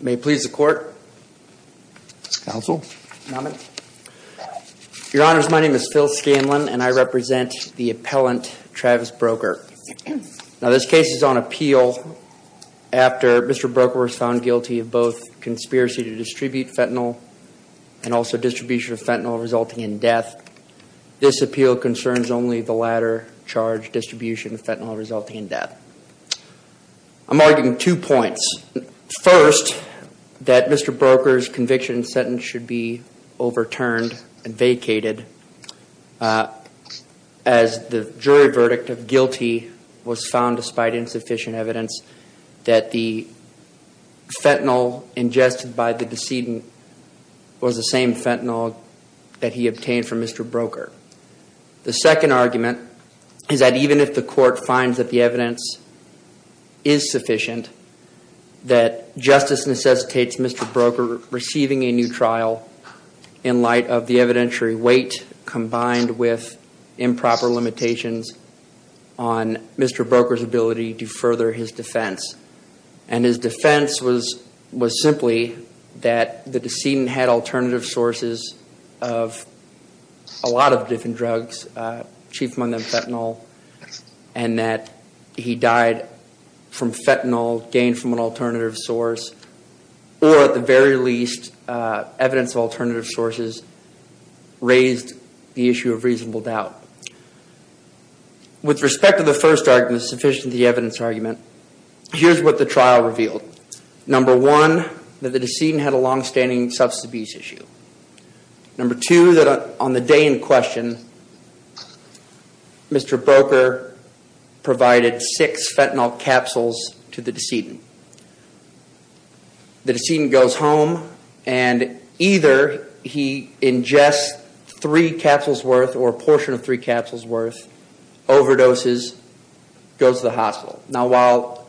May it please the court, your honors my name is Phil Scanlon and I represent the appellant Travis Broeker. Now this case is on appeal after Mr. Broeker was found guilty of both conspiracy to distribute fentanyl and also distribution of fentanyl resulting in death. This appeal concerns only the latter charge. I'm arguing two points. First, that Mr. Broeker's conviction sentence should be overturned and vacated as the jury verdict of guilty was found despite insufficient evidence that the fentanyl ingested by the decedent was the same fentanyl that he obtained from Mr. Broeker. The second argument is that even if the court finds that the evidence is sufficient that justice necessitates Mr. Broeker receiving a new trial in light of the evidentiary weight combined with improper limitations on Mr. Broeker's ability to further his defense. And his defense was simply that the decedent had alternative sources of a lot of different drugs, chief among them fentanyl and that he died from fentanyl gained from an alternative source or at the very least evidence of alternative sources raised the issue of reasonable doubt. With respect to the first argument, the evidence argument, here's what the trial revealed. Number one, that the decedent had a longstanding substance abuse issue. Number two, that on the day in question Mr. Broeker provided six fentanyl capsules to the decedent. The decedent goes home and either he ingests three capsules worth or a portion of three capsules worth, overdoses, goes to the hospital. Now while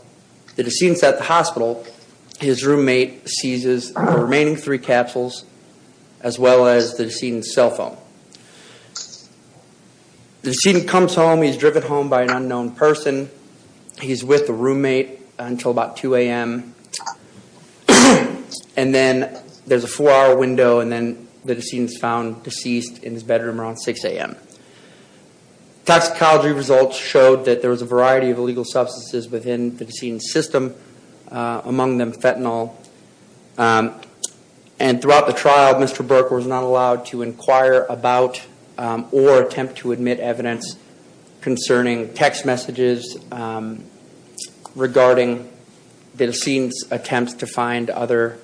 the decedent's at the hospital, his roommate seizes the remaining three capsules as well as the decedent's cell phone. The decedent comes home, he's driven home by an unknown person, he's with the roommate until about 2 a.m. And then there's a four hour window and then the decedent's found deceased in his bedroom around 6 a.m. Toxicology results showed that there was a variety of illegal substances within the decedent's system, among them fentanyl. And throughout the trial, Mr. Broeker was not allowed to inquire about or attempt to admit evidence concerning text messages regarding the decedent's attempts to find other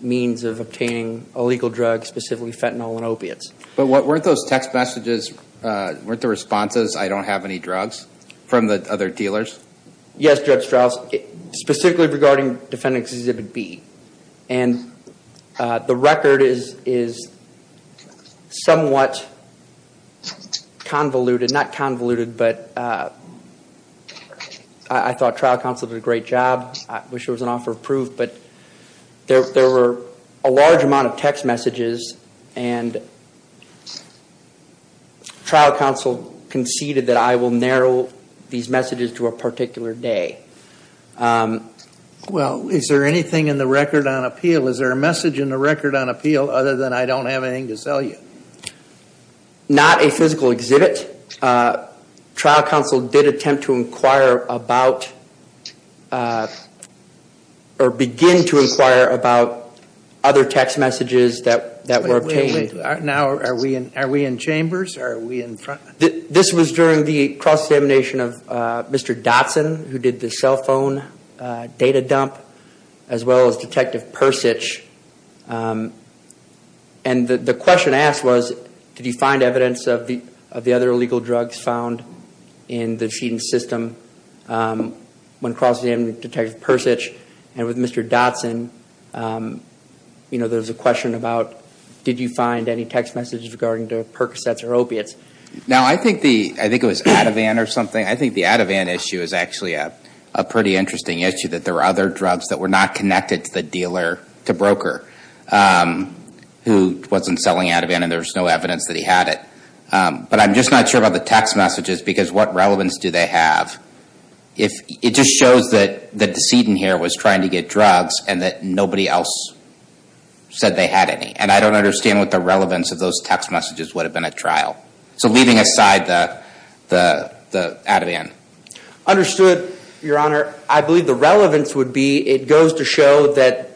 means of obtaining illegal drugs, specifically fentanyl and opiates. But weren't those text messages, weren't the responses, I don't have any drugs from the other dealers? Yes, Judge Strauss, specifically regarding Defendant Exhibit B. And the record is somewhat convoluted, not convoluted, but I thought trial counsel did a great job. I wish there was an offer of proof, but there were a large amount of text messages and trial counsel conceded that I will narrow these messages to a particular day. Well, is there anything in the record on appeal, is there a message in the record on appeal other than I don't have anything to sell you? Not a physical exhibit. Trial counsel did attempt to inquire about or begin to inquire about other text messages that were obtained. Now, are we in chambers or are we in front? This was during the cross-examination of Mr. Dotson, who did the cell phone data dump, as well as Detective Persich. And the question asked was, did you find evidence of the other illegal drugs found in the feeding system when cross-examining Detective Persich? And with Mr. Dotson, you know, there was a question about, did you find any text messages regarding to Percocets or opiates? Now, I think it was Ativan or something. I think the Ativan issue is actually a pretty interesting issue, that there were other drugs that were not connected to the dealer, to broker, who wasn't selling Ativan and there was no evidence that he had it. But I'm just not sure about the text messages because what relevance do they have? It just shows that the decedent here was trying to get drugs and that nobody else said they had any. And I don't understand what the relevance of those text messages would have been at trial. So leaving aside the Ativan. Understood, Your Honor. I believe the relevance would be, it goes to show that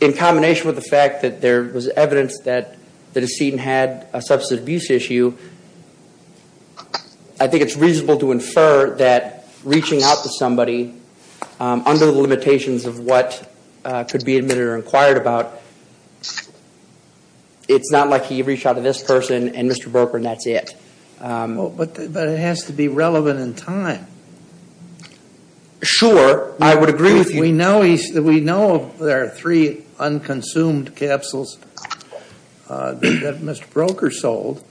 in combination with the fact that there was evidence that the decedent had a substance abuse issue, I think it's reasonable to infer that reaching out to somebody under the limitations of what could be admitted or inquired about, it's not like he reached out to this person and Mr. Broker and that's it. But it has to be relevant in time. Sure, I would agree with you. We know there are three unconsumed capsules that Mr. Broker sold.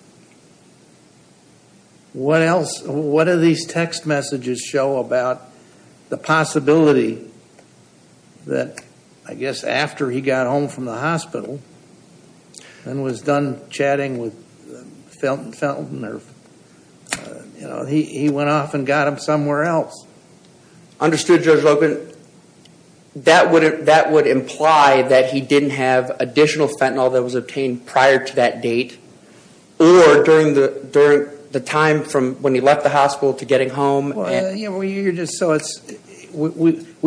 What else, what do these text messages show about the possibility that, I guess after he got home from the hospital and was done chatting with Fenton, he went off and got him somewhere else. Understood, Judge Logan. That would imply that he didn't have additional fentanyl that was obtained prior to that date or during the time from when he left the hospital to getting home. We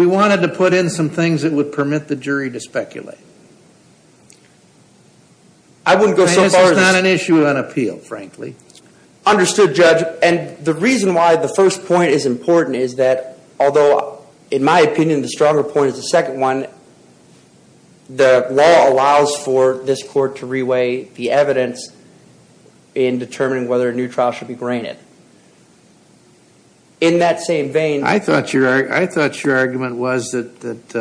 wanted to put in some things that would permit the jury to speculate. I wouldn't go so far as... This is not an issue on appeal, frankly. Understood, Judge. And the reason why the first point is important is that, although in my opinion the stronger point is the second one, the law allows for this court to reweigh the evidence in determining whether a new trial should be granted. In that same vein... I thought your argument was that it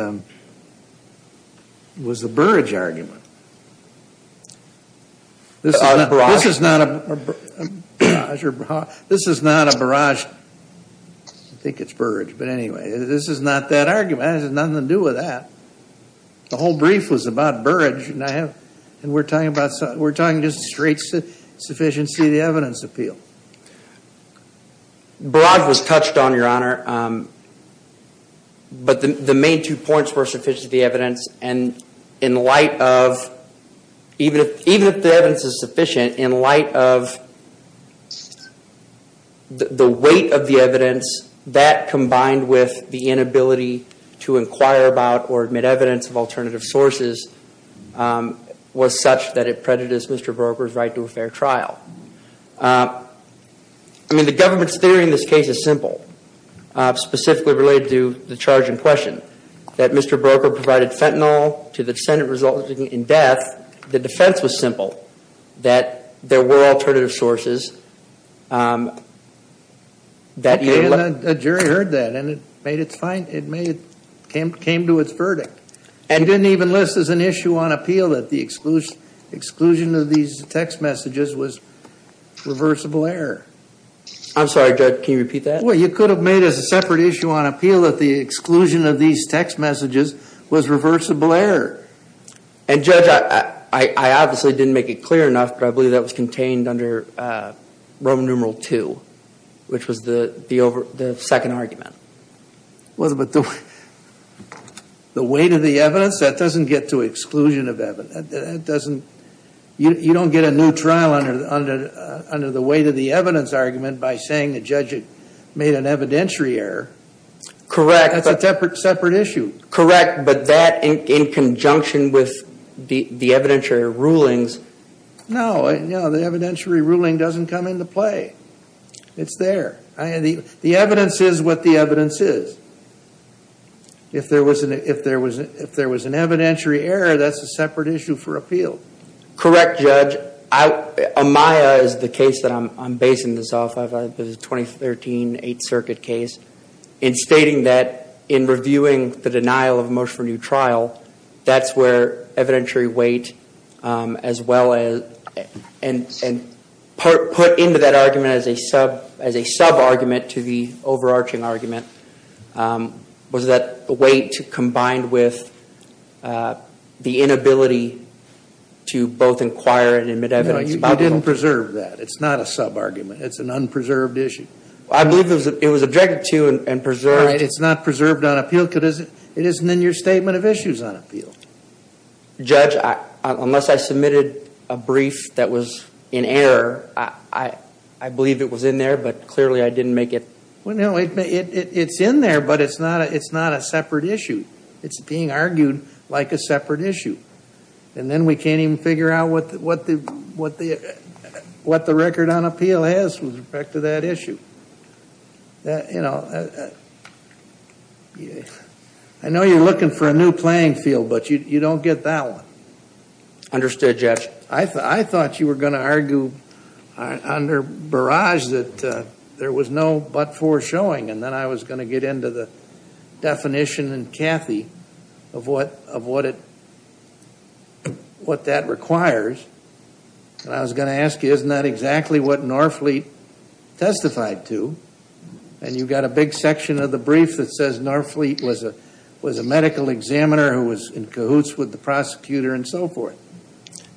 was a Burrage argument. This is not a Burrage, I think it's Burrage, but anyway, this is not that argument. It has nothing to do with that. The whole brief was about Burrage, and we're talking just straight sufficiency of the evidence appeal. Burrage was touched on, Your Honor. But the main two points were sufficiency of the evidence, and in light of... to inquire about or admit evidence of alternative sources was such that it prejudiced Mr. Broker's right to a fair trial. I mean, the government's theory in this case is simple, specifically related to the charge in question, that Mr. Broker provided fentanyl to the defendant resulting in death. The defense was simple, that there were alternative sources. A jury heard that, and it came to its verdict. And didn't even list as an issue on appeal that the exclusion of these text messages was reversible error. I'm sorry, Judge, can you repeat that? Well, you could have made as a separate issue on appeal that the exclusion of these text messages was reversible error. And, Judge, I obviously didn't make it clear enough, but I believe that was contained under section 3. Roman numeral 2, which was the second argument. Well, but the weight of the evidence, that doesn't get to exclusion of evidence. You don't get a new trial under the weight of the evidence argument by saying the judge made an evidentiary error. Correct. That's a separate issue. Correct, but that in conjunction with the evidentiary rulings... No, the evidentiary ruling doesn't come into play. It's there. The evidence is what the evidence is. If there was an evidentiary error, that's a separate issue for appeal. Correct, Judge. Amaya is the case that I'm basing this off of, the 2013 Eighth Circuit case. In stating that, in reviewing the denial of motion for new trial, that's where evidentiary weight, as well as, and put into that argument as a sub-argument to the overarching argument, was that weight combined with the inability to both inquire and admit evidence. No, you didn't preserve that. It's not a sub-argument. It's an unpreserved issue. I believe it was directed to you and preserved... It's not preserved on appeal because it isn't in your statement of issues on appeal. Judge, unless I submitted a brief that was in error, I believe it was in there, but clearly I didn't make it... No, it's in there, but it's not a separate issue. It's being argued like a separate issue. And then we can't even figure out what the record on appeal has with respect to that issue. I know you're looking for a new playing field, but you don't get that one. Understood, Judge. I thought you were going to argue under barrage that there was no but-for showing, and then I was going to get into the definition in Cathy of what that requires, and I was going to ask you, isn't that exactly what Norfleet testified to? And you've got a big section of the brief that says Norfleet was a medical examiner who was in cahoots with the prosecutor and so forth.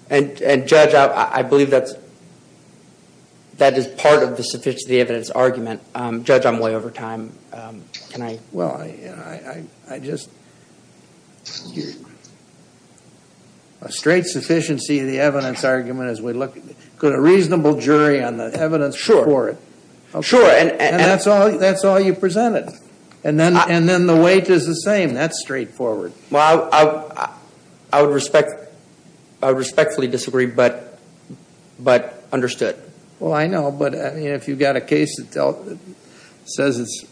And Judge, I believe that is part of the sufficiency of the evidence argument. Judge, I'm way over time. Can I... Well, I just... A straight sufficiency of the evidence argument as we look at it. Put a reasonable jury on the evidence for it. Sure. And that's all you presented. And then the weight is the same. That's straightforward. Well, I would respectfully disagree, but understood. Well, I know, but if you've got a case that says it's...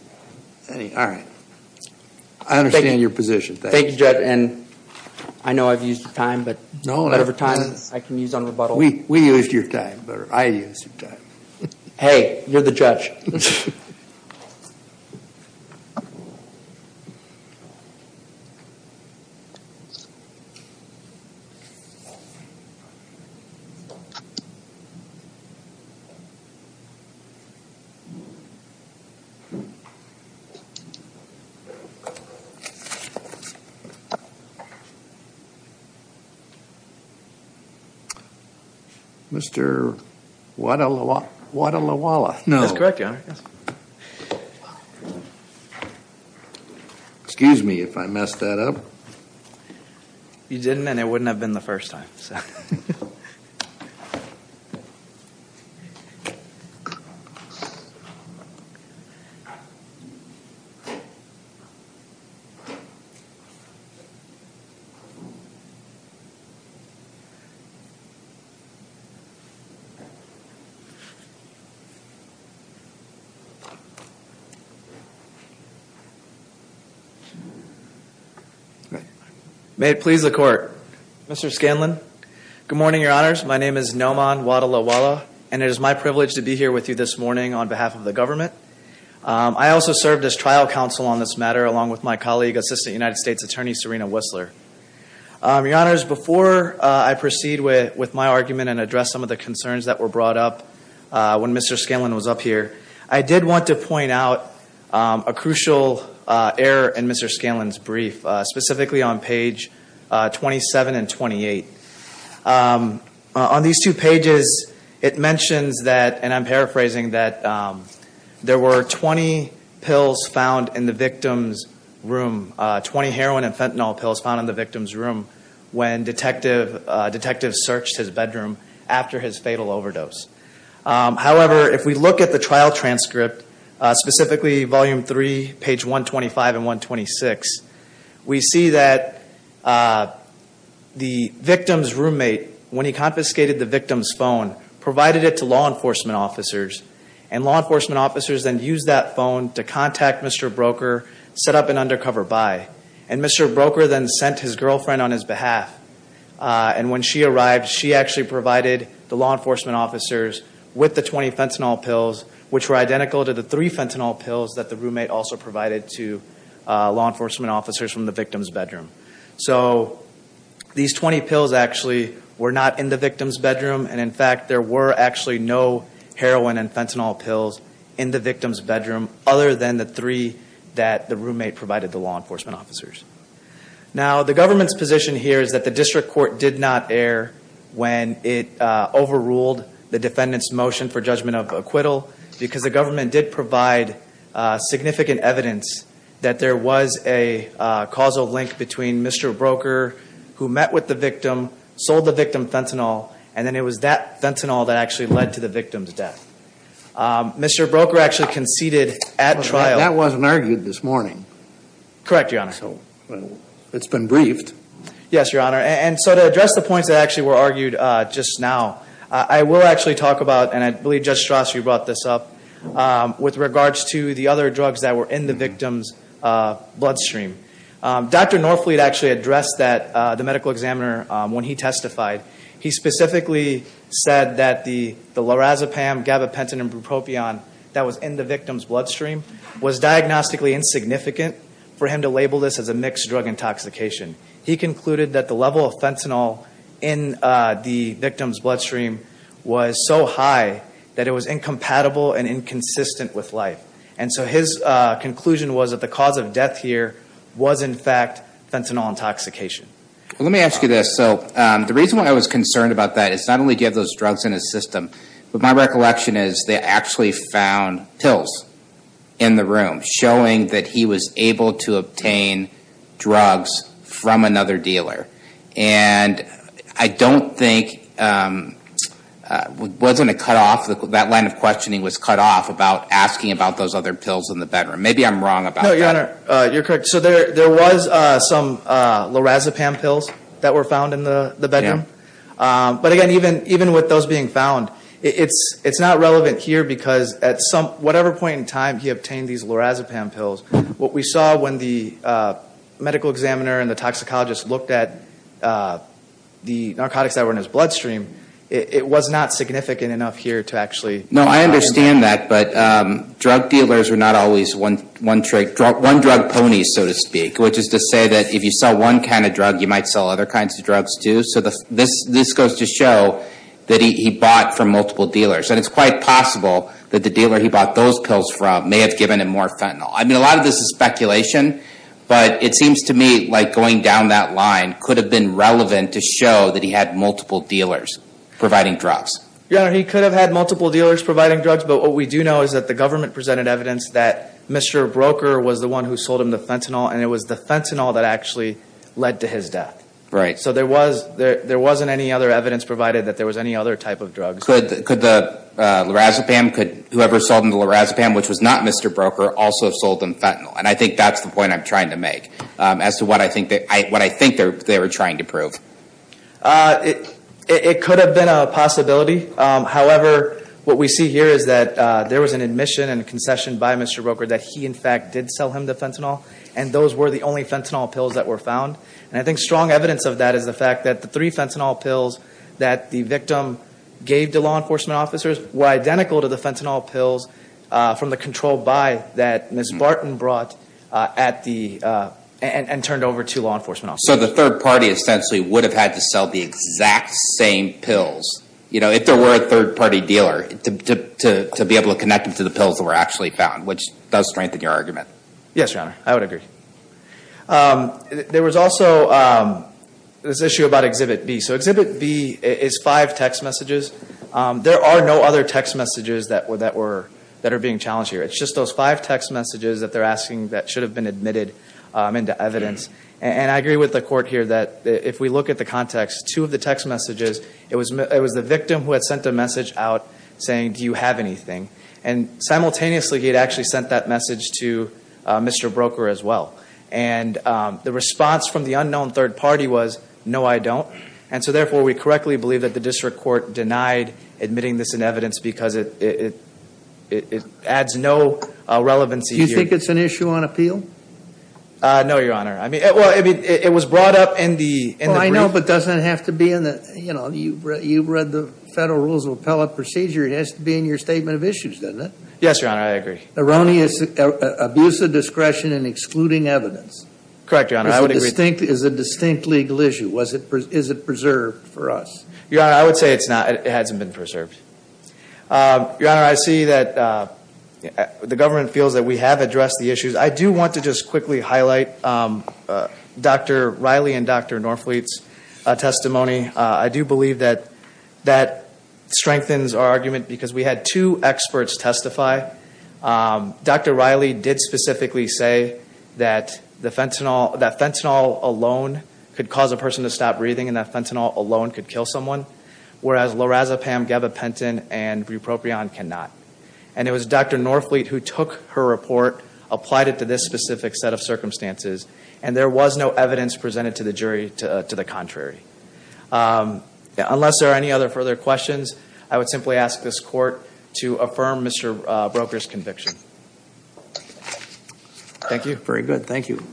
All right. I understand your position. Thank you, Judge. And I know I've used your time, but whatever time I can use on rebuttal. We used your time. I used your time. Hey, you're the judge. Thank you. Mr. Wadalawala. No. That's correct, Your Honor. Yes. Excuse me if I messed that up. You didn't, and it wouldn't have been the first time. All right. May it please the court. Mr. Scanlon. Good morning, Your Honors. My name is Noman Wadalawala, and it is my privilege to be here with you this morning on behalf of the government. I also served as trial counsel on this matter, along with my colleague, Assistant United States Attorney Serena Whistler. Your Honors, before I proceed with my argument and address some of the concerns that were brought up when Mr. Scanlon was up here, I did want to point out a crucial error in Mr. Scanlon's brief, specifically on page 27 and 28. On these two pages, it mentions that, and I'm paraphrasing, that there were 20 pills found in the victim's room, 20 heroin and fentanyl pills found in the victim's room when detectives searched his bedroom after his fatal overdose. However, if we look at the trial transcript, specifically volume three, page 125 and 126, we see that the victim's roommate, when he confiscated the victim's phone, provided it to law enforcement officers. And law enforcement officers then used that phone to contact Mr. Broeker, set up an undercover buy. And Mr. Broeker then sent his girlfriend on his behalf. And when she arrived, she actually provided the law enforcement officers with the 20 fentanyl pills, which were identical to the three fentanyl pills that the roommate also provided to law enforcement officers from the victim's bedroom. So, these 20 pills actually were not in the victim's bedroom. And in fact, there were actually no heroin and fentanyl pills in the victim's bedroom other than the three that the roommate provided the law enforcement officers. Now, the government's position here is that the district court did not err when it overruled the defendant's motion for judgment of acquittal because the government did provide significant evidence that there was a causal link between Mr. Broeker, who met with the victim, sold the victim fentanyl, and then it was that fentanyl that actually led to the victim's death. Mr. Broeker actually conceded at trial. That wasn't argued this morning. It's been briefed. Yes, Your Honor. And so, to address the points that actually were argued just now, I will actually talk about, and I believe Judge Strasse brought this up, with regards to the other drugs that were in the victim's bloodstream. Dr. Norfleet actually addressed that, the medical examiner, when he testified. He specifically said that the lorazepam, gabapentin, and bupropion that was in the victim's bloodstream was diagnostically insignificant for him to label this as a mixed drug intoxication. He concluded that the level of fentanyl in the victim's bloodstream was so high that it was incompatible and inconsistent with life. And so his conclusion was that the cause of death here was, in fact, fentanyl intoxication. Well, let me ask you this. So, the reason why I was concerned about that is not only do you have those drugs in his system, but my recollection is they actually found pills in the room showing that he was able to obtain drugs from another dealer. And I don't think, wasn't it cut off, that line of questioning was cut off about asking about those other pills in the bedroom. Maybe I'm wrong about that. No, Your Honor, you're correct. So, there was some lorazepam pills that were found in the bedroom. But again, even with those being found, it's not relevant here because at whatever point in time he obtained these lorazepam pills. What we saw when the medical examiner and the toxicologist looked at the narcotics that were in his bloodstream, it was not significant enough here to actually... No, I understand that. But drug dealers are not always one drug pony, so to speak, which is to say that if you sell one kind of drug, you might sell other kinds of drugs, too. So, this goes to show that he bought from multiple dealers. And it's quite possible that the dealer he bought those pills from may have given him more fentanyl. I mean, a lot of this is speculation, but it seems to me like going down that line could have been relevant to show that he had multiple dealers providing drugs. Your Honor, he could have had multiple dealers providing drugs, but what we do know is that the government presented evidence that Mr. Broker was the one who sold him the fentanyl, and it was the fentanyl that actually led to his death. Right. So, there wasn't any other evidence provided that there was any other type of drugs. Could the lorazepam, could whoever sold him the lorazepam, which was not Mr. Broker, also have sold him fentanyl? And I think that's the point I'm trying to make as to what I think they were trying to prove. It could have been a possibility. However, what we see here is that there was an admission and a concession by Mr. Broker that he, in fact, did sell him the fentanyl, and those were the only fentanyl pills that were found. And I think strong evidence of that is the fact that the three fentanyl pills that the victim gave to law enforcement officers were identical to the fentanyl pills that were from the control buy that Ms. Barton brought at the, and turned over to law enforcement officers. So, the third party essentially would have had to sell the exact same pills, you know, if there were a third party dealer, to be able to connect them to the pills that were actually found, which does strengthen your argument. Yes, Your Honor, I would agree. There was also this issue about Exhibit B. So, Exhibit B is five text messages. There are no other text messages that are being challenged here. It's just those five text messages that they're asking that should have been admitted into evidence. And I agree with the court here that if we look at the context, two of the text messages, it was the victim who had sent a message out saying, do you have anything? And simultaneously, he had actually sent that message to Mr. Broker as well. And the response from the unknown third party was, no, I don't. And so, therefore, we correctly believe that the district court denied that it adds no relevancy here. Do you think it's an issue on appeal? No, Your Honor. It was brought up in the brief. I know, but doesn't it have to be in the, you know, you've read the Federal Rules of Appellate Procedure. It has to be in your Statement of Issues, doesn't it? Yes, Your Honor, I agree. Erroneous abuse of discretion in excluding evidence. Correct, Your Honor, I would agree. Is a distinct legal issue. Is it preserved for us? Your Honor, I would say it's not. Your Honor, I see that the government feels that we have addressed the issues. I do want to just quickly highlight Dr. Riley and Dr. Norfleet's testimony. I do believe that that strengthens our argument because we had two experts testify. Dr. Riley did specifically say that the fentanyl, that fentanyl alone could cause a person to stop breathing and that fentanyl alone could kill someone. Whereas, lorazepam, gabapentin, and bupropion cannot. And it was Dr. Norfleet who took her report, applied it to this specific set of circumstances, and there was no evidence presented to the jury to the contrary. Unless there are any other further questions, I would simply ask this Court to affirm Mr. Broker's conviction. Thank you. Very good, thank you.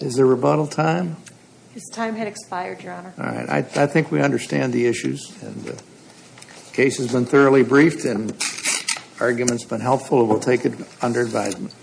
Is there rebuttal time? His time had expired, Your Honor. All right, I think we understand the issues. The case has been thoroughly briefed and the argument has been helpful. We will take it under advisement.